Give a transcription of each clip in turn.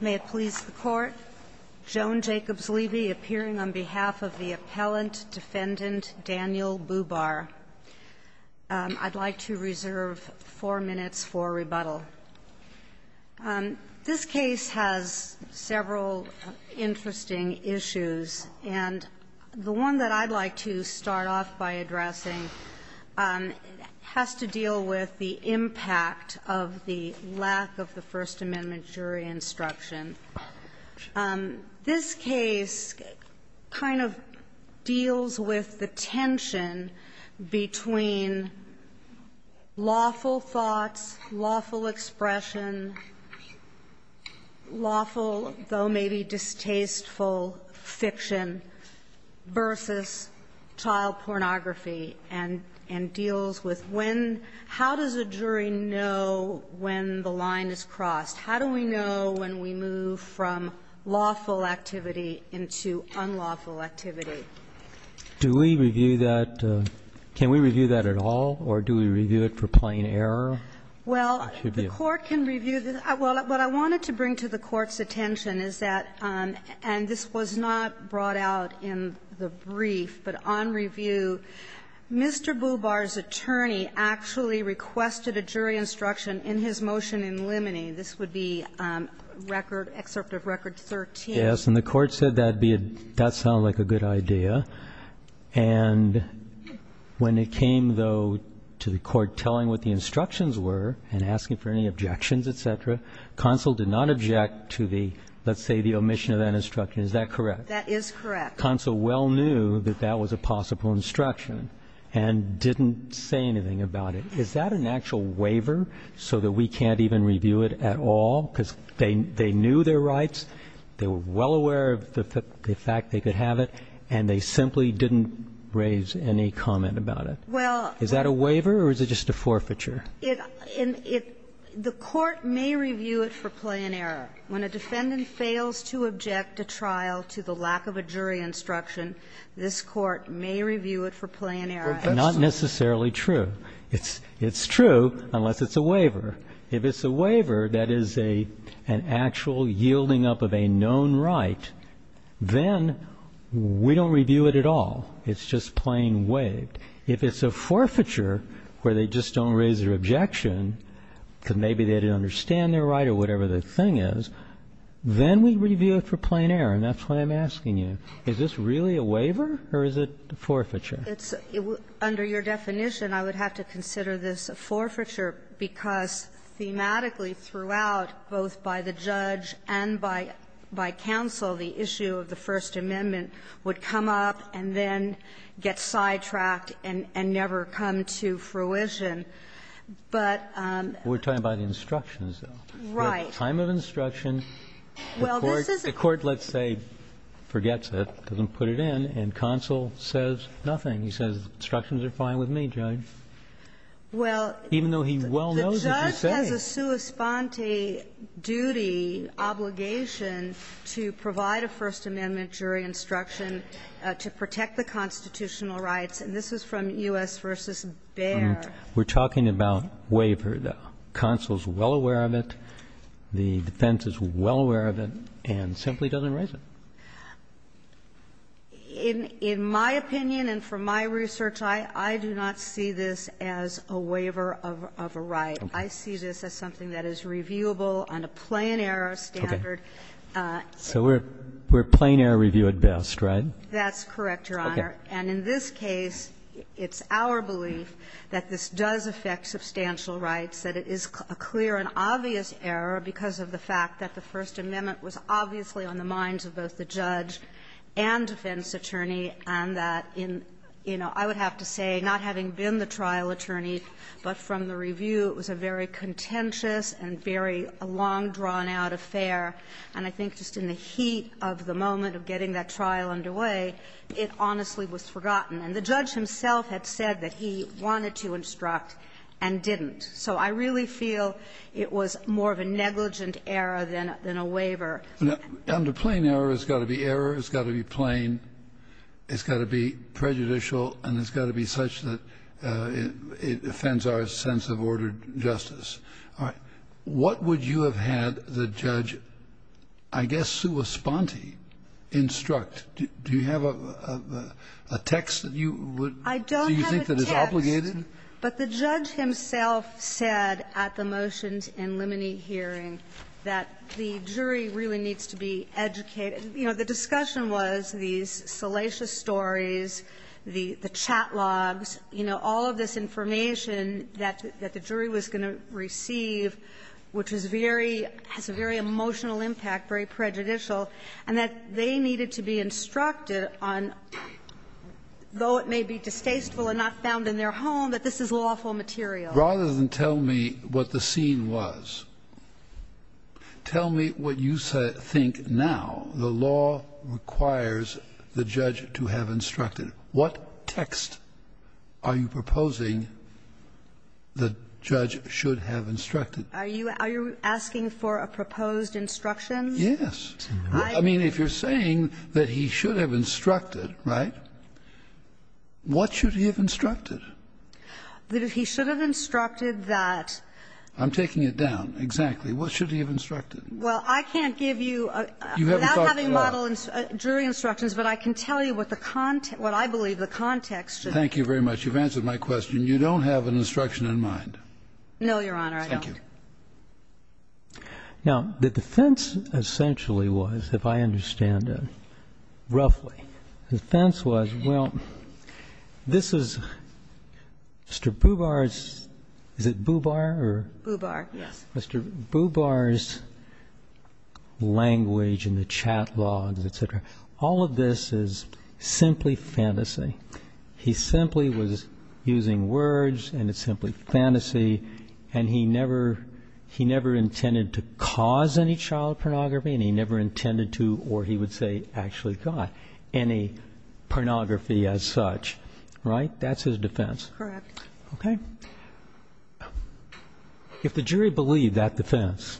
May it please the Court, Joan Jacobs-Levy appearing on behalf of the Appellant Defendant Daniel Boobar, I'd like to reserve four minutes for rebuttal. This case has several interesting issues, and the one that I'd like to start off by addressing has to deal with the impact of the lack of the First Amendment jury instruction. This case kind of deals with the tension between lawful thoughts, lawful expression, lawful, though maybe distasteful, fiction, versus child pornography, and deals with when – how does a jury know when the line is crossed? How do we know when we move from lawful activity into unlawful activity? Do we review that – can we review that at all, or do we review it for plain error? Well, the Court can review – well, what I wanted to bring to the Court's attention is that, and this was not brought out in the brief, but on review, Mr. Boobar's attorney actually requested a jury instruction in his motion in limine. This would be record – excerpt of record 13. Yes, and the Court said that'd be – that sounded like a good idea. And when it came, though, to the Court telling what the instructions were and asking for any objections, et cetera, counsel did not object to the – let's say the omission of that instruction. Is that correct? That is correct. Counsel well knew that that was a possible instruction and didn't say anything about it. Is that an actual waiver so that we can't even review it at all? Because they knew their rights, they were well aware of the fact they could have it, and they simply didn't raise any comment about it. Well – Is that a waiver or is it just a forfeiture? It – it – the Court may review it for plain error. When a defendant fails to object a trial to the lack of a jury instruction, this Court may review it for plain error. Well, that's not necessarily true. It's – it's true unless it's a waiver. If it's a waiver, that is a – an actual yielding up of a known right, then we don't review it at all. It's just plain waived. If it's a forfeiture where they just don't raise their objection, because maybe they didn't understand their right or whatever the thing is, then we review it for plain error. And that's what I'm asking you. Is this really a waiver or is it a forfeiture? It's – under your definition, I would have to consider this a forfeiture because thematically throughout, both by the judge and by – by counsel, the issue of the First Amendment would come up and then get sidetracked and never come to fruition. But – We're talking about instructions, though. Right. The time of instruction, the Court, let's say, forgets it, doesn't put it in, and he says instructions are fine with me, Judge, even though he well knows what he's saying. Well, the judge has a sua sponte duty, obligation, to provide a First Amendment jury instruction to protect the constitutional rights, and this is from U.S. v. Bayer. We're talking about waiver, though. Counsel's well aware of it. The defense is well aware of it and simply doesn't raise it. In my opinion and from my research, I do not see this as a waiver of a right. I see this as something that is reviewable on a plain error standard. Okay. So we're plain error review at best, right? That's correct, Your Honor. Okay. And in this case, it's our belief that this does affect substantial rights, that it is a clear and obvious error because of the fact that the First Amendment was obviously on the minds of both the judge and defense attorney, and that in, you know, I would have to say, not having been the trial attorney, but from the review, it was a very contentious and very long-drawn-out affair, and I think just in the heat of the moment of getting that trial underway, it honestly was forgotten. And the judge himself had said that he wanted to instruct and didn't. So I really feel it was more of a negligent error than a waiver. Under plain error, it's got to be error, it's got to be plain, it's got to be prejudicial, and it's got to be such that it offends our sense of ordered justice. All right. What would you have had the judge, I guess, sui sponte, instruct? Do you have a text that you would do you think that is obligated? But the judge himself said at the motions and limine hearing that the jury really needs to be educated. You know, the discussion was these salacious stories, the chat logs, you know, all of this information that the jury was going to receive, which is very – has a very emotional impact, very prejudicial, and that they needed to be instructed on, though it may be distasteful and not found in their home, that this is lawful material. Rather than tell me what the scene was, tell me what you think now. The law requires the judge to have instructed. What text are you proposing the judge should have instructed? Are you asking for a proposed instruction? Yes. I mean, if you're saying that he should have instructed, right, what should he have instructed? That he should have instructed that – I'm taking it down. Exactly. What should he have instructed? Well, I can't give you – You haven't talked to the law. Without having model jury instructions, but I can tell you what the – what I believe the context should be. Thank you very much. You've answered my question. You don't have an instruction in mind. No, Your Honor, I don't. Thank you. Now, the defense essentially was, if I understand it roughly, the defense was, well, this is Mr. Boubar's – is it Boubar or – Boubar, yes. Mr. Boubar's language in the chat logs, et cetera, all of this is simply fantasy. He simply was using words, and it's simply fantasy, and he never – he never intended to cause any child pornography, and he never intended to, or he would say, actually got any pornography as such, right? That's his defense. Correct. Okay. If the jury believed that defense,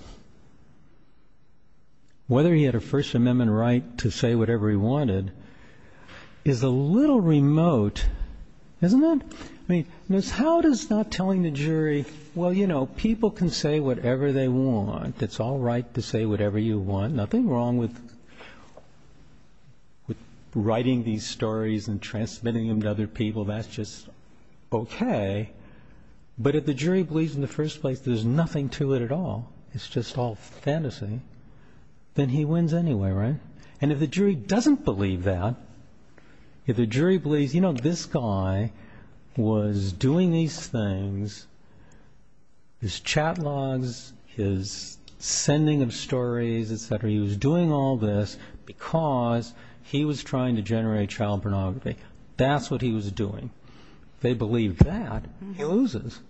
whether he had a First Amendment right to say whatever he wanted, is a little remote, isn't it? I mean, how does not telling the jury, well, you know, people can say whatever they want. It's all right to say whatever you want. Nothing wrong with writing these stories and transmitting them to other people. That's just okay. But if the jury believes in the first place there's nothing to it at all, it's just all fantasy, then he wins anyway, right? And if the jury doesn't believe that, if the jury believes, you know, this guy was doing these things, his chat logs, his sending of stories, et cetera, he was doing all this because he was trying to generate child pornography. That's what he was doing. If they believe that, he loses.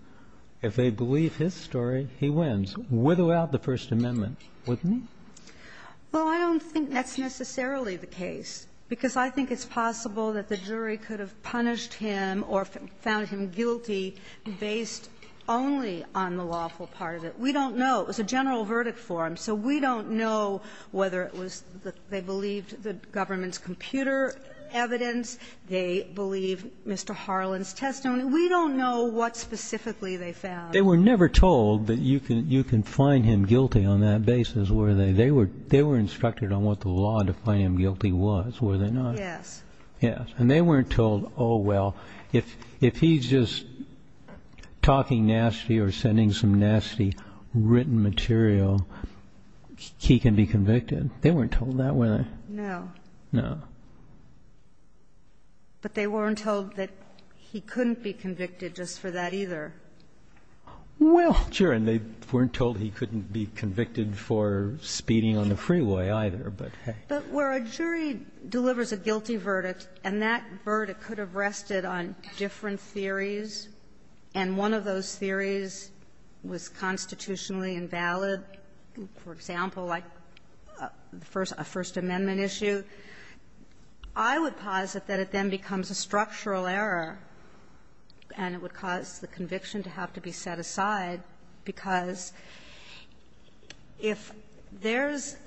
If they believe his story, he wins, without the First Amendment, wouldn't he? Well, I don't think that's necessarily the case, because I think it's possible that the jury could have punished him or found him guilty based only on the lawful part of it. We don't know. It was a general verdict for him. So we don't know whether it was that they believed the government's computer evidence, they believed Mr. Harlan's testimony. We don't know what specifically they found. They were never told that you can find him guilty on that basis, were they? They were instructed on what the law defined him guilty was, were they not? Yes. Yes. And they weren't told, oh, well, if he's just talking nasty or sending some nasty written material, he can be convicted. They weren't told that, were they? No. No. But they weren't told that he couldn't be convicted just for that either. Well, sure. And they weren't told he couldn't be convicted for speeding on the freeway either, but, hey. But where a jury delivers a guilty verdict and that verdict could have rested on different theories, and one of those theories was constitutionally invalid, for example, like a First Amendment issue, I would posit that it then becomes a structural error, and it would cause the conviction to have to be set aside, because if there's –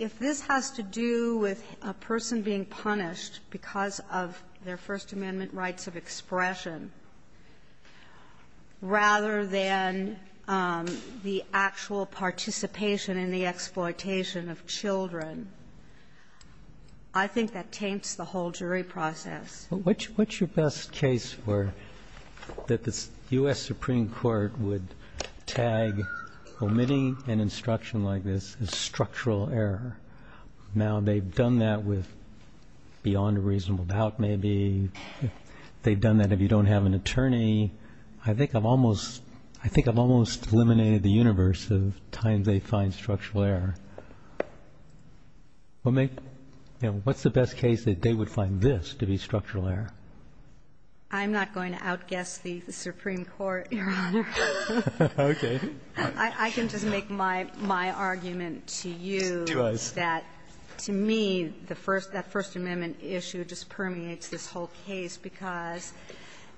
if this has to do with a person being punished because of their First Amendment rights of expression, rather than the actual participation in the exploitation of children, I think that taints the whole jury process. What's your best case for – that the U.S. Supreme Court would tag omitting an instruction like this as structural error? Now, they've done that with beyond a reasonable doubt, maybe. They've done that if you don't have an attorney. I think I've almost – I think I've almost eliminated the universe of times they find structural error. Well, make – what's the best case that they would find this to be structural error? I'm not going to outguess the Supreme Court, Your Honor. Okay. I can just make my argument to you that, to me, the first – that First Amendment issue just permeates this whole case because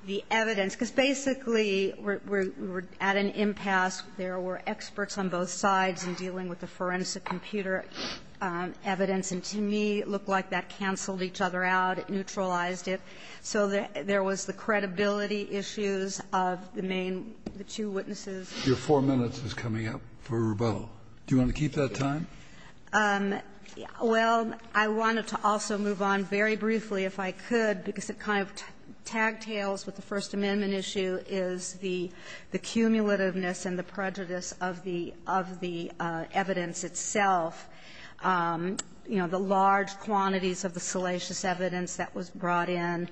the evidence – because basically we're at an impasse. There were experts on both sides in dealing with the forensic computer evidence, and to me, it looked like that canceled each other out, it neutralized it. So there was the credibility issues of the main – the two witnesses. Your four minutes is coming up for rebuttal. Do you want to keep that time? Well, I wanted to also move on very briefly, if I could, because it kind of tag-tails with the First Amendment issue is the cumulativeness and the prejudice of the – of the evidence itself. You know, the large quantities of the salacious evidence that was brought in,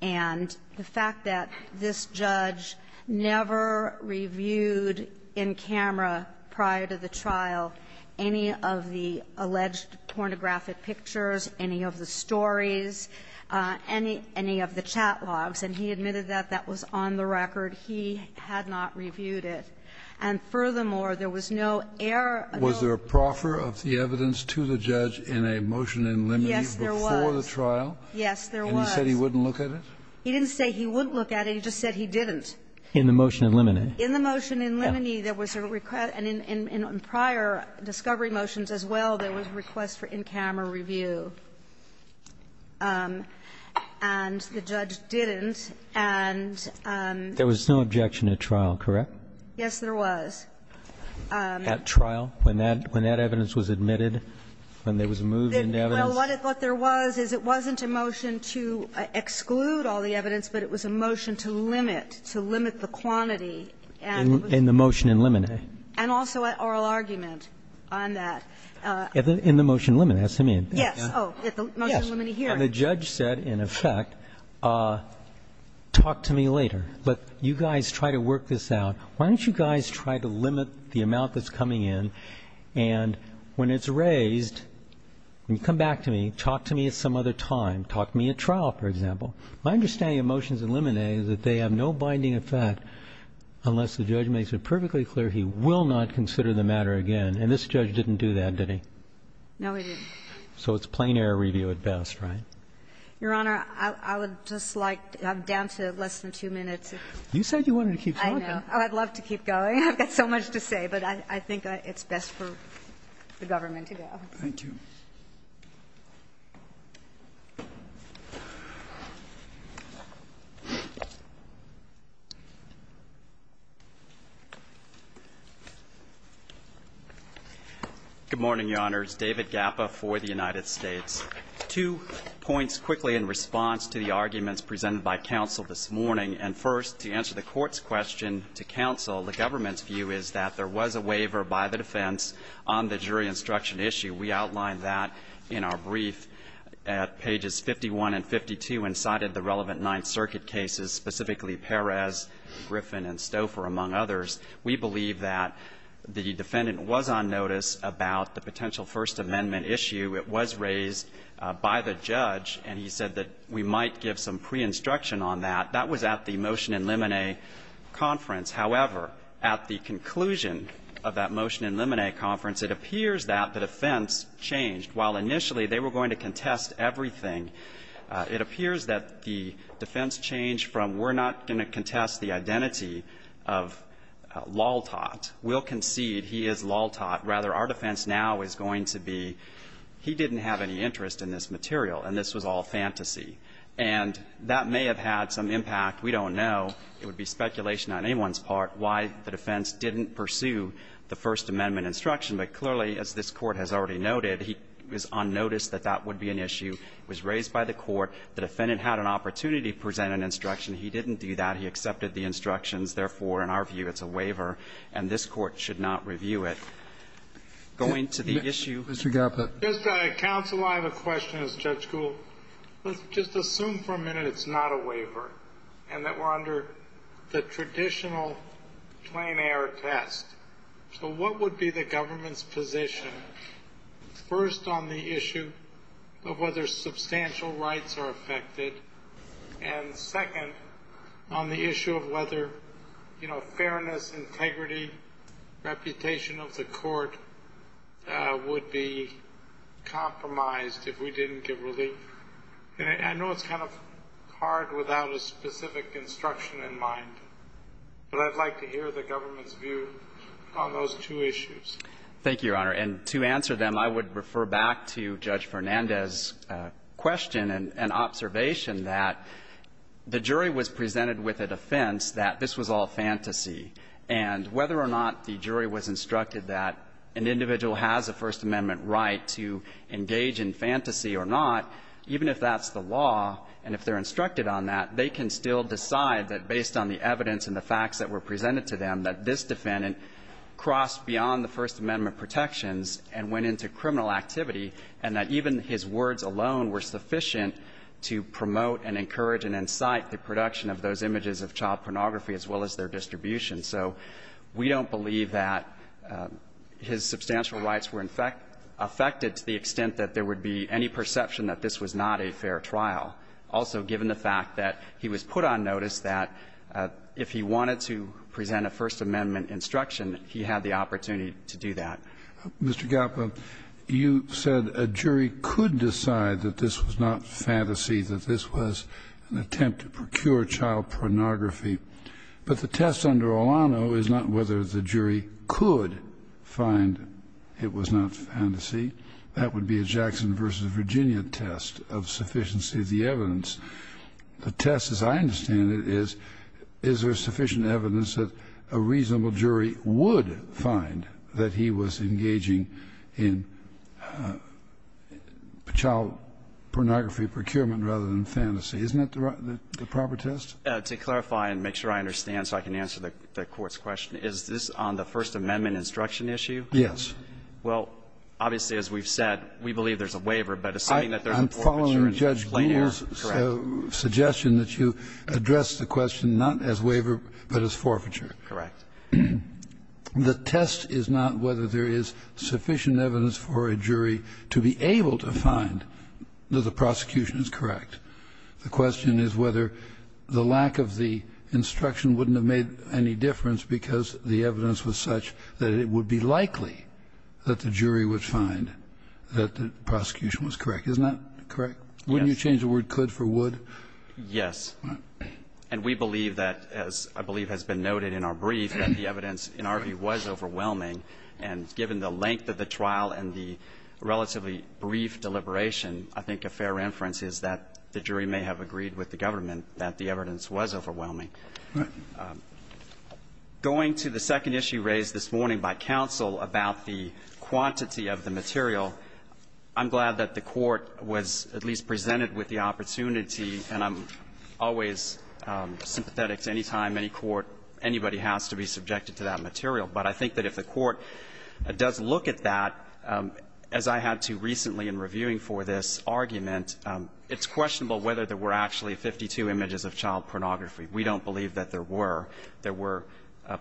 and the fact that this judge never reviewed in camera prior to the trial any of the alleged pornographic pictures, any of the stories, any – any of the chat logs. And he admitted that that was on the record. He had not reviewed it. And furthermore, there was no air of no – Was there a proffer of the evidence to the judge in a motion in Liminey before the trial? Yes, there was. Yes, there was. And he said he wouldn't look at it? He didn't say he wouldn't look at it. He just said he didn't. In the motion in Liminey. In the motion in Liminey, there was a request – and in prior discovery motions as well, there was a request for in-camera review. And the judge didn't. And – There was no objection at trial, correct? Yes, there was. At trial, when that – when that evidence was admitted, when there was a move in evidence? Well, what there was is it wasn't a motion to exclude all the evidence, but it was a motion to limit, to limit the quantity, and it was – In the motion in Liminey. And also an oral argument on that. In the motion in Liminey. That's what I mean. Yes. Okay. Oh, at the motion in Liminey here. Yes. And the judge said, in effect, talk to me later. But you guys try to work this out. Why don't you guys try to limit the amount that's coming in? And when it's raised, when you come back to me, talk to me at some other time. Talk to me at trial, for example. My understanding of motions in Liminey is that they have no binding effect unless the judge makes it perfectly clear he will not consider the matter again. And this judge didn't do that, did he? No, he didn't. So it's plain error review at best, right? Your Honor, I would just like – I'm down to less than two minutes. You said you wanted to keep talking. I know. I'd love to keep going. I've got so much to say. But I think it's best for the government to go. Thank you. Good morning, Your Honors. David Gappa for the United States. Two points quickly in response to the arguments presented by counsel this morning. And first, to answer the Court's question to counsel, the government's view is that there was a waiver by the defense on the jury instruction issue. We outlined that in our brief at pages 51 and 52 and cited the relevant Ninth Circuit cases, specifically Perez, Griffin, and Stouffer, among others. We believe that the defendant was on notice about the potential First Amendment issue. It was raised by the judge, and he said that we might give some pre-instruction on that. That was at the motion in limine conference. However, at the conclusion of that motion in limine conference, it appears that the defense changed. While initially they were going to contest everything, it appears that the defense changed from, we're not going to contest the identity of Laltot. We'll concede he is Laltot. Rather, our defense now is going to be, he didn't have any interest in this material, and this was all fantasy. And that may have had some impact. We don't know. It would be speculation on anyone's part why the defense didn't pursue the First Amendment instruction. But clearly, as this Court has already noted, he was on notice that that would be an issue. It was raised by the Court. The defendant had an opportunity to present an instruction. He didn't do that. He accepted the instructions. Therefore, in our view, it's a waiver. And this Court should not review it. Going to the issue. Mr. Galpert. Just, counsel, I have a question as Judge Gould. Let's just assume for a minute it's not a waiver, and that we're under the traditional plain-air test. So what would be the government's position first on the issue of whether substantial rights are affected, and second, on the issue of whether, you know, fairness, integrity, reputation of the Court would be compromised if we didn't give relief? And I know it's kind of hard without a specific instruction in mind, but I'd like to hear the government's view on those two issues. Thank you, Your Honor. And to answer them, I would refer back to Judge Fernandez's question and observation that the jury was presented with a defense that this was all fantasy. And whether or not the jury was instructed that an individual has a First Amendment right to engage in fantasy or not, even if that's the law and if they're instructed on that, they can still decide that based on the evidence and the facts that were and went into criminal activity, and that even his words alone were sufficient to promote and encourage and incite the production of those images of child pornography as well as their distribution. So we don't believe that his substantial rights were in fact affected to the extent that there would be any perception that this was not a fair trial. Also, given the fact that he was put on notice that if he wanted to present a First Amendment instruction, he had the opportunity to do that. Mr. Galpin, you said a jury could decide that this was not fantasy, that this was an attempt to procure child pornography. But the test under Olano is not whether the jury could find it was not fantasy. That would be a Jackson versus Virginia test of sufficiency of the evidence. The test, as I understand it, is, is there sufficient evidence that a reasonable jury is engaging in child pornography procurement rather than fantasy? Isn't that the proper test? To clarify and make sure I understand so I can answer the court's question, is this on the First Amendment instruction issue? Yes. Well, obviously, as we've said, we believe there's a waiver, but assuming that there's a forfeiture in plain air, correct. I'm following Judge Gould's suggestion that you address the question not as waiver, but as forfeiture. Correct. The test is not whether there is sufficient evidence for a jury to be able to find that the prosecution is correct. The question is whether the lack of the instruction wouldn't have made any difference because the evidence was such that it would be likely that the jury would find that the prosecution was correct. Isn't that correct? Yes. Wouldn't you change the word could for would? Yes. And we believe that, as I believe has been noted in our brief, that the evidence, in our view, was overwhelming. And given the length of the trial and the relatively brief deliberation, I think a fair reference is that the jury may have agreed with the government that the evidence was overwhelming. Going to the second issue raised this morning by counsel about the quantity of the material, I'm glad that the Court was at least presented with the opportunity to see, and I'm always sympathetic to any time any court, anybody has to be subjected to that material, but I think that if the Court does look at that, as I had to recently in reviewing for this argument, it's questionable whether there were actually 52 images of child pornography. We don't believe that there were. There were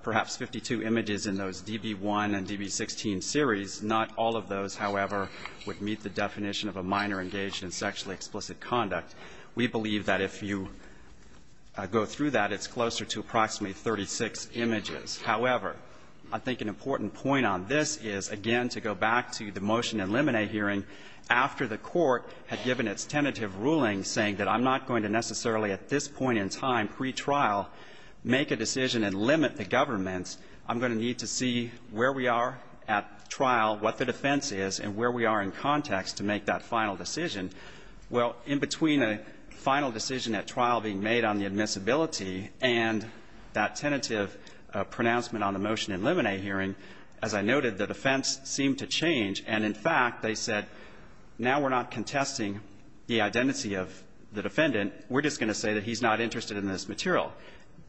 perhaps 52 images in those DB1 and DB16 series. Not all of those, however, would meet the definition of a minor engaged in sexually explicit conduct. We believe that if you go through that, it's closer to approximately 36 images. However, I think an important point on this is, again, to go back to the motion in Lemonet hearing, after the Court had given its tentative ruling saying that I'm not going to necessarily at this point in time, pretrial, make a decision and limit the government, I'm going to need to see where we are at trial, what the defense is, and where we are in context to make that final decision. Well, in between a final decision at trial being made on the admissibility and that tentative pronouncement on the motion in Lemonet hearing, as I noted, the defense seemed to change. And in fact, they said, now we're not contesting the identity of the defendant. We're just going to say that he's not interested in this material.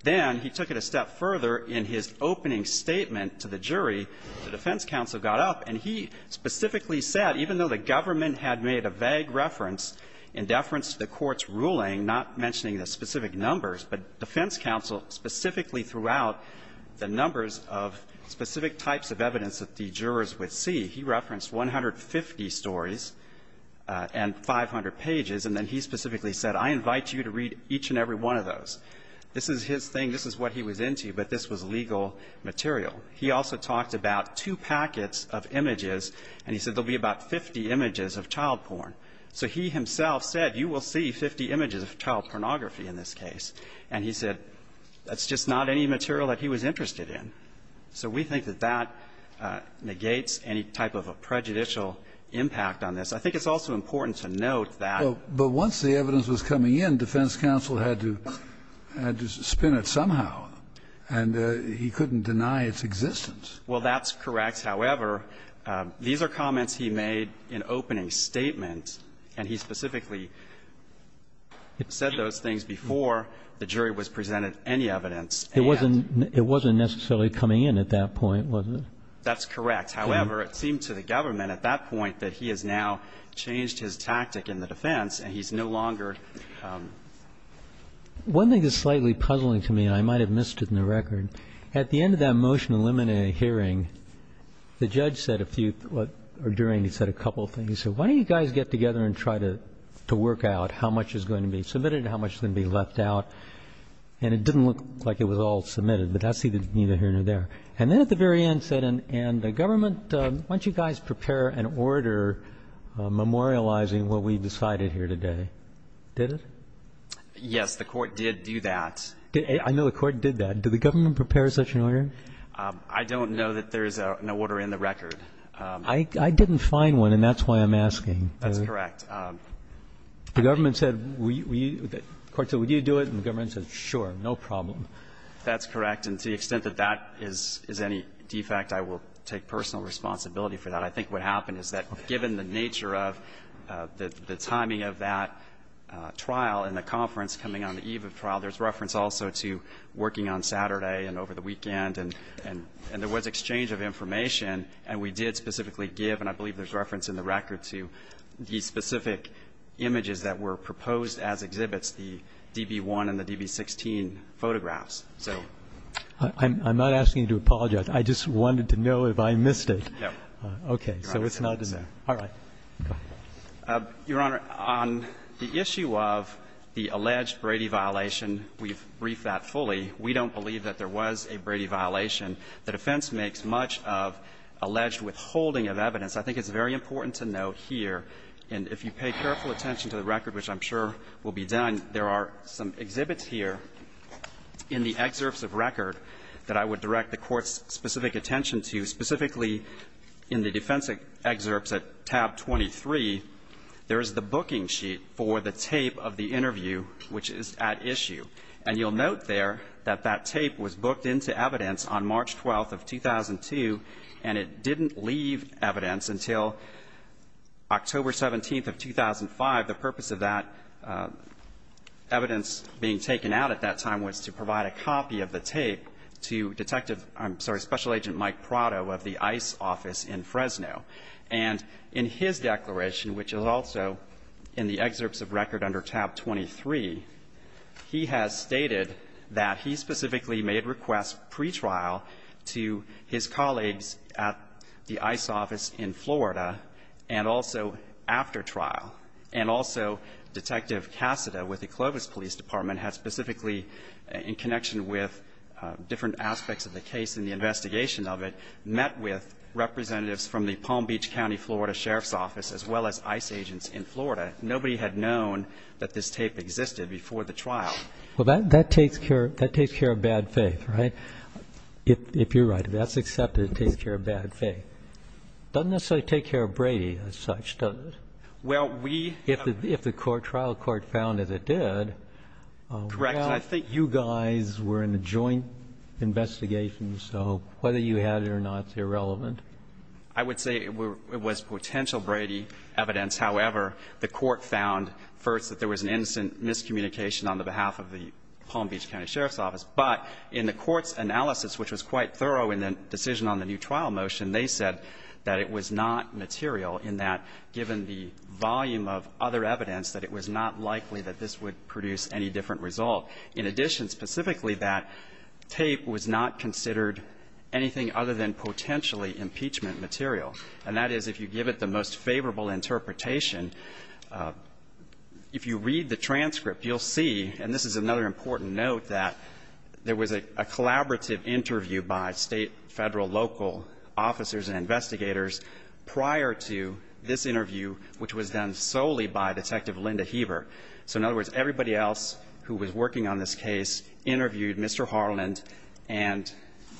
Then he took it a step further in his opening statement to the jury. The defense counsel got up, and he specifically said, even though the government had made a vague reference in deference to the Court's ruling, not mentioning the specific numbers, but the defense counsel specifically threw out the numbers of specific types of evidence that the jurors would see, he referenced 150 stories and 500 pages, and then he specifically said, I invite you to read each and every one of those. This is his thing. This is what he was into, but this was legal material. He also talked about two packets of images, and he said there will be about 50 images of child porn. So he himself said, you will see 50 images of child pornography in this case. And he said, that's just not any material that he was interested in. So we think that that negates any type of a prejudicial impact on this. I think it's also important to note that the defense counsel had to spin it somehow, and he couldn't deny its existence. Well, that's correct. However, these are comments he made in opening statement, and he specifically said those things before the jury was presented any evidence. And it wasn't necessarily coming in at that point, was it? That's correct. However, it seemed to the government at that point that he has now changed his tactic in the defense, and he's no longer. One thing that's slightly puzzling to me, and I might have missed it in the record, at the end of that motion-eliminated hearing, the judge said a few, or during, he said a couple of things. He said, why don't you guys get together and try to work out how much is going to be submitted and how much is going to be left out? And it didn't look like it was all submitted, but that's either here or there. And then at the very end, he said, and the government, why don't you guys prepare an order memorializing what we decided here today? Did it? Yes, the court did do that. I know the court did that. Did the government prepare such an order? I don't know that there's an order in the record. I didn't find one, and that's why I'm asking. That's correct. The government said, we, the court said, would you do it? And the government said, sure, no problem. That's correct. And to the extent that that is any defect, I will take personal responsibility for that. I think what happened is that given the nature of the timing of that trial and the conference coming on the eve of the trial, there's reference also to working on Saturday and over the weekend. And there was exchange of information, and we did specifically give, and I believe there's reference in the record, to the specific images that were proposed as exhibits, the DB-1 and the DB-16 photographs. I'm not asking you to apologize. I just wanted to know if I missed it. No. Okay. So it's not in there. All right. Go ahead. Your Honor, on the issue of the alleged Brady violation, we've briefed that fully. We don't believe that there was a Brady violation. The defense makes much of alleged withholding of evidence. I think it's very important to note here, and if you pay careful attention to the record, which I'm sure will be done, there are some exhibits here in the excerpts of record that I would direct the Court's specific attention to, specifically in the defense excerpts at tab 23, there is the booking sheet for the tape of the interview, which is at issue. And you'll note there that that tape was booked into evidence on March 12th of 2002, and it didn't leave evidence until October 17th of 2005. The purpose of that evidence being taken out at that time was to provide a copy of the And in his declaration, which is also in the excerpts of record under tab 23, he has stated that he specifically made requests pretrial to his colleagues at the ICE office in Florida and also after trial, and also Detective Cassada with the Clovis Police Department had specifically, in connection with different aspects of the case and the investigation of it, met with representatives from the Palm Beach County, Florida, Sheriff's Office, as well as ICE agents in Florida. Nobody had known that this tape existed before the trial. Well, that takes care of bad faith, right? If you're right, if that's accepted, it takes care of bad faith. Doesn't necessarily take care of Brady as such, does it? Well, we If the trial court found that it did, well, you guys were in a joint investigation, so whether you had it or not is irrelevant. I would say it was potential Brady evidence. However, the court found, first, that there was an instant miscommunication on the behalf of the Palm Beach County Sheriff's Office. But in the court's analysis, which was quite thorough in the decision on the new trial motion, they said that it was not material in that, given the volume of other evidence, that it was not likely that this would produce any different result. In addition, specifically, that tape was not considered anything other than potentially impeachment material. And that is, if you give it the most favorable interpretation, if you read the transcript, you'll see, and this is another important note, that there was a collaborative interview by state, federal, local officers and investigators prior to this interview, which was done solely by Detective Linda Heber. So, in other words, everybody else who was working on this case interviewed Mr. Harland, and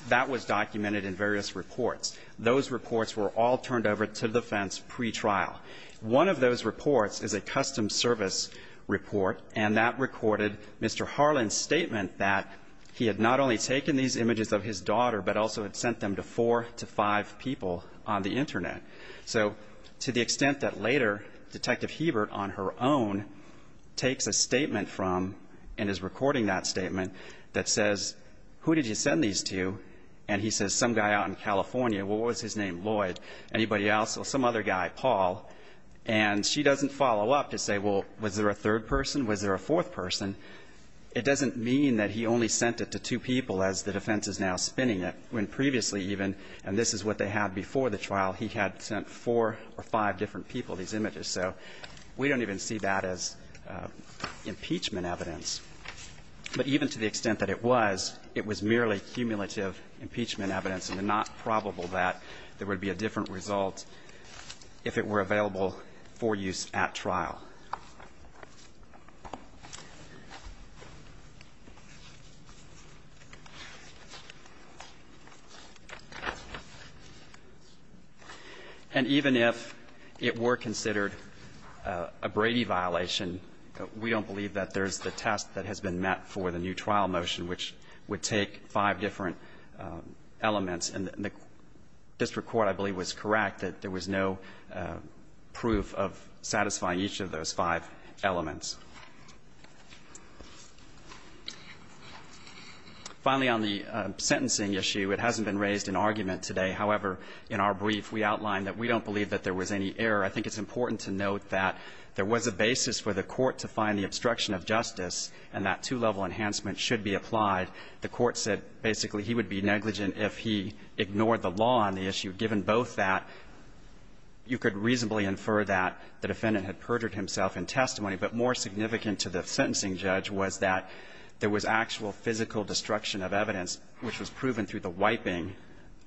that was documented in various reports. Those reports were all turned over to the defense pre-trial. One of those reports is a custom service report, and that recorded Mr. Harland's statement that he had not only taken these images of his daughter, but also had sent them to four to five people on the internet. So, to the extent that later, Detective Hebert, on her own, takes a statement from, and is recording that statement, that says, who did you send these to? And he says, some guy out in California. Well, what was his name? Lloyd. Anybody else? Well, some other guy, Paul. And she doesn't follow up to say, well, was there a third person? Was there a fourth person? It doesn't mean that he only sent it to two people as the defense is now spinning it. When previously even, and this is what they had before the trial, he had sent four or five different people these images. So, we don't even see that as impeachment evidence. But even to the extent that it was, it was merely cumulative impeachment evidence, and not probable that there would be a different result if it were available for use at trial. And even if it were considered a Brady violation, we don't believe that there's the test that has been met for the new trial motion, which would take five different elements. And the district court, I believe, was correct that there was no proof of satisfying each of those five elements. Finally, on the sentencing issue, it hasn't been raised in argument today. However, in our brief, we outlined that we don't believe that there was any error. I think it's important to note that there was a basis for the court to find the obstruction of justice, and that two-level enhancement should be applied. The court said basically he would be negligent if he ignored the law on the issue. Given both that, you could reasonably infer that the defendant had perjured himself in testimony, but more significant to the sentencing judge was that there was actual physical destruction of evidence, which was proven through the wiping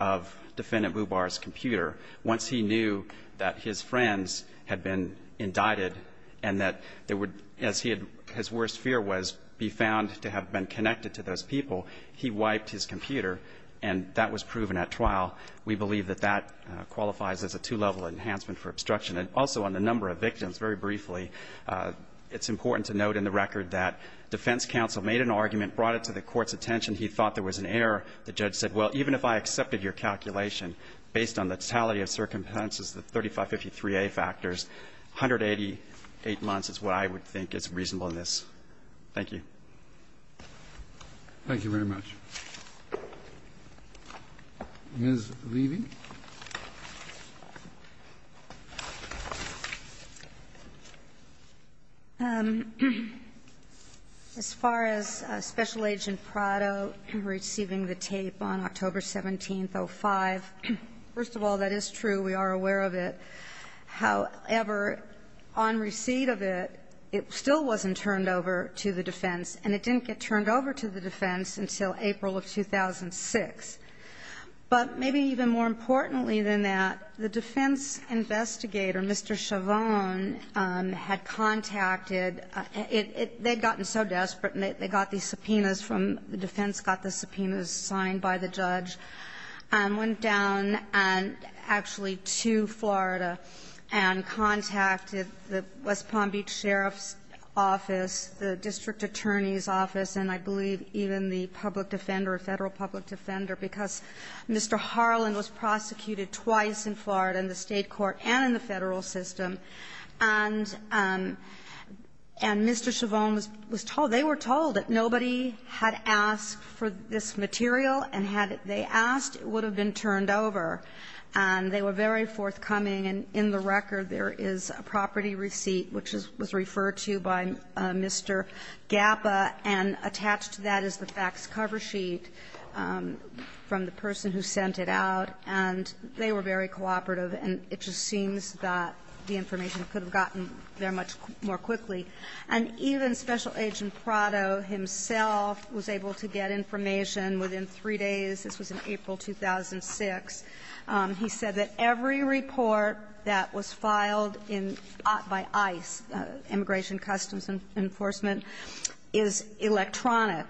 of Defendant Mubar's computer. Once he knew that his friends had been indicted, and that there would, as his worst fear was, be found to have been connected to those people, he wiped his computer, and that was proven at trial. We believe that that qualifies as a two-level enhancement for obstruction. And also on the number of victims, very briefly, it's important to note in the record that defense counsel made an argument, brought it to the court's attention. He thought there was an error. The judge said, well, even if I accepted your calculation based on the totality of circumstances, the 3553A factors, 188 months is what I would think is reasonable in this. Thank you. Thank you very much. Ms. Levy. As far as Special Agent Prado receiving the tape on October 17th, 05, first of all, that is true, we are aware of it. However, on receipt of it, it still wasn't turned over to the defense, and it didn't get turned over to the defense until April of 2006. But maybe even more importantly than that, the defense investigator, Mr. Chavon, had contacted the defense, got the subpoenas signed by the judge, and went down and actually to Florida and contacted the West Palm Beach Sheriff's Office, the District Attorney's Office, and I believe even the public defender, Federal public defender because Mr. Harlan was prosecuted twice in Florida, in the State court and in the Federal system. And Mr. Chavon was told, they were told that nobody had asked for this material, and had they asked, it would have been turned over. And they were very forthcoming, and in the record there is a property receipt, which was referred to by Mr. Gapa, and attached to that is the fax cover sheet. From the person who sent it out, and they were very cooperative, and it just seems that the information could have gotten there much more quickly. And even Special Agent Prado himself was able to get information within three days. This was in April 2006. He said that every report that was filed in, by ICE, Immigration Customs Enforcement, is electronic.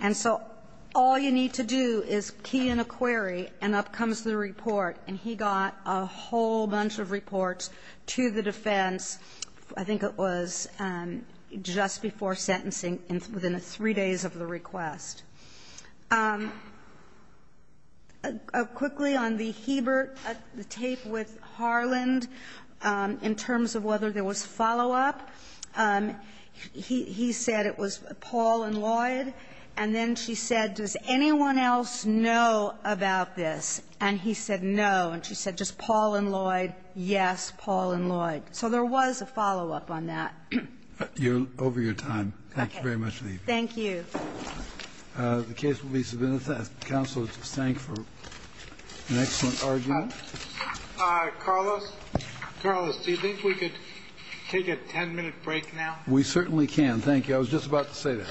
And so all you need to do is key in a query, and up comes the report. And he got a whole bunch of reports to the defense, I think it was just before sentencing, within three days of the request. Quickly, on the Hebert, the tape with Harland, in terms of whether there was follow-up. He said it was Paul and Lloyd, and then she said, does anyone else know about this? And he said no, and she said, just Paul and Lloyd, yes, Paul and Lloyd. So there was a follow-up on that. You're over your time. Thank you very much, Lee. Thank you. The case will be submitted. Counsel, thank you for an excellent argument. Carlos, do you think we could take a 10-minute break now? We certainly can, thank you. I was just about to say that.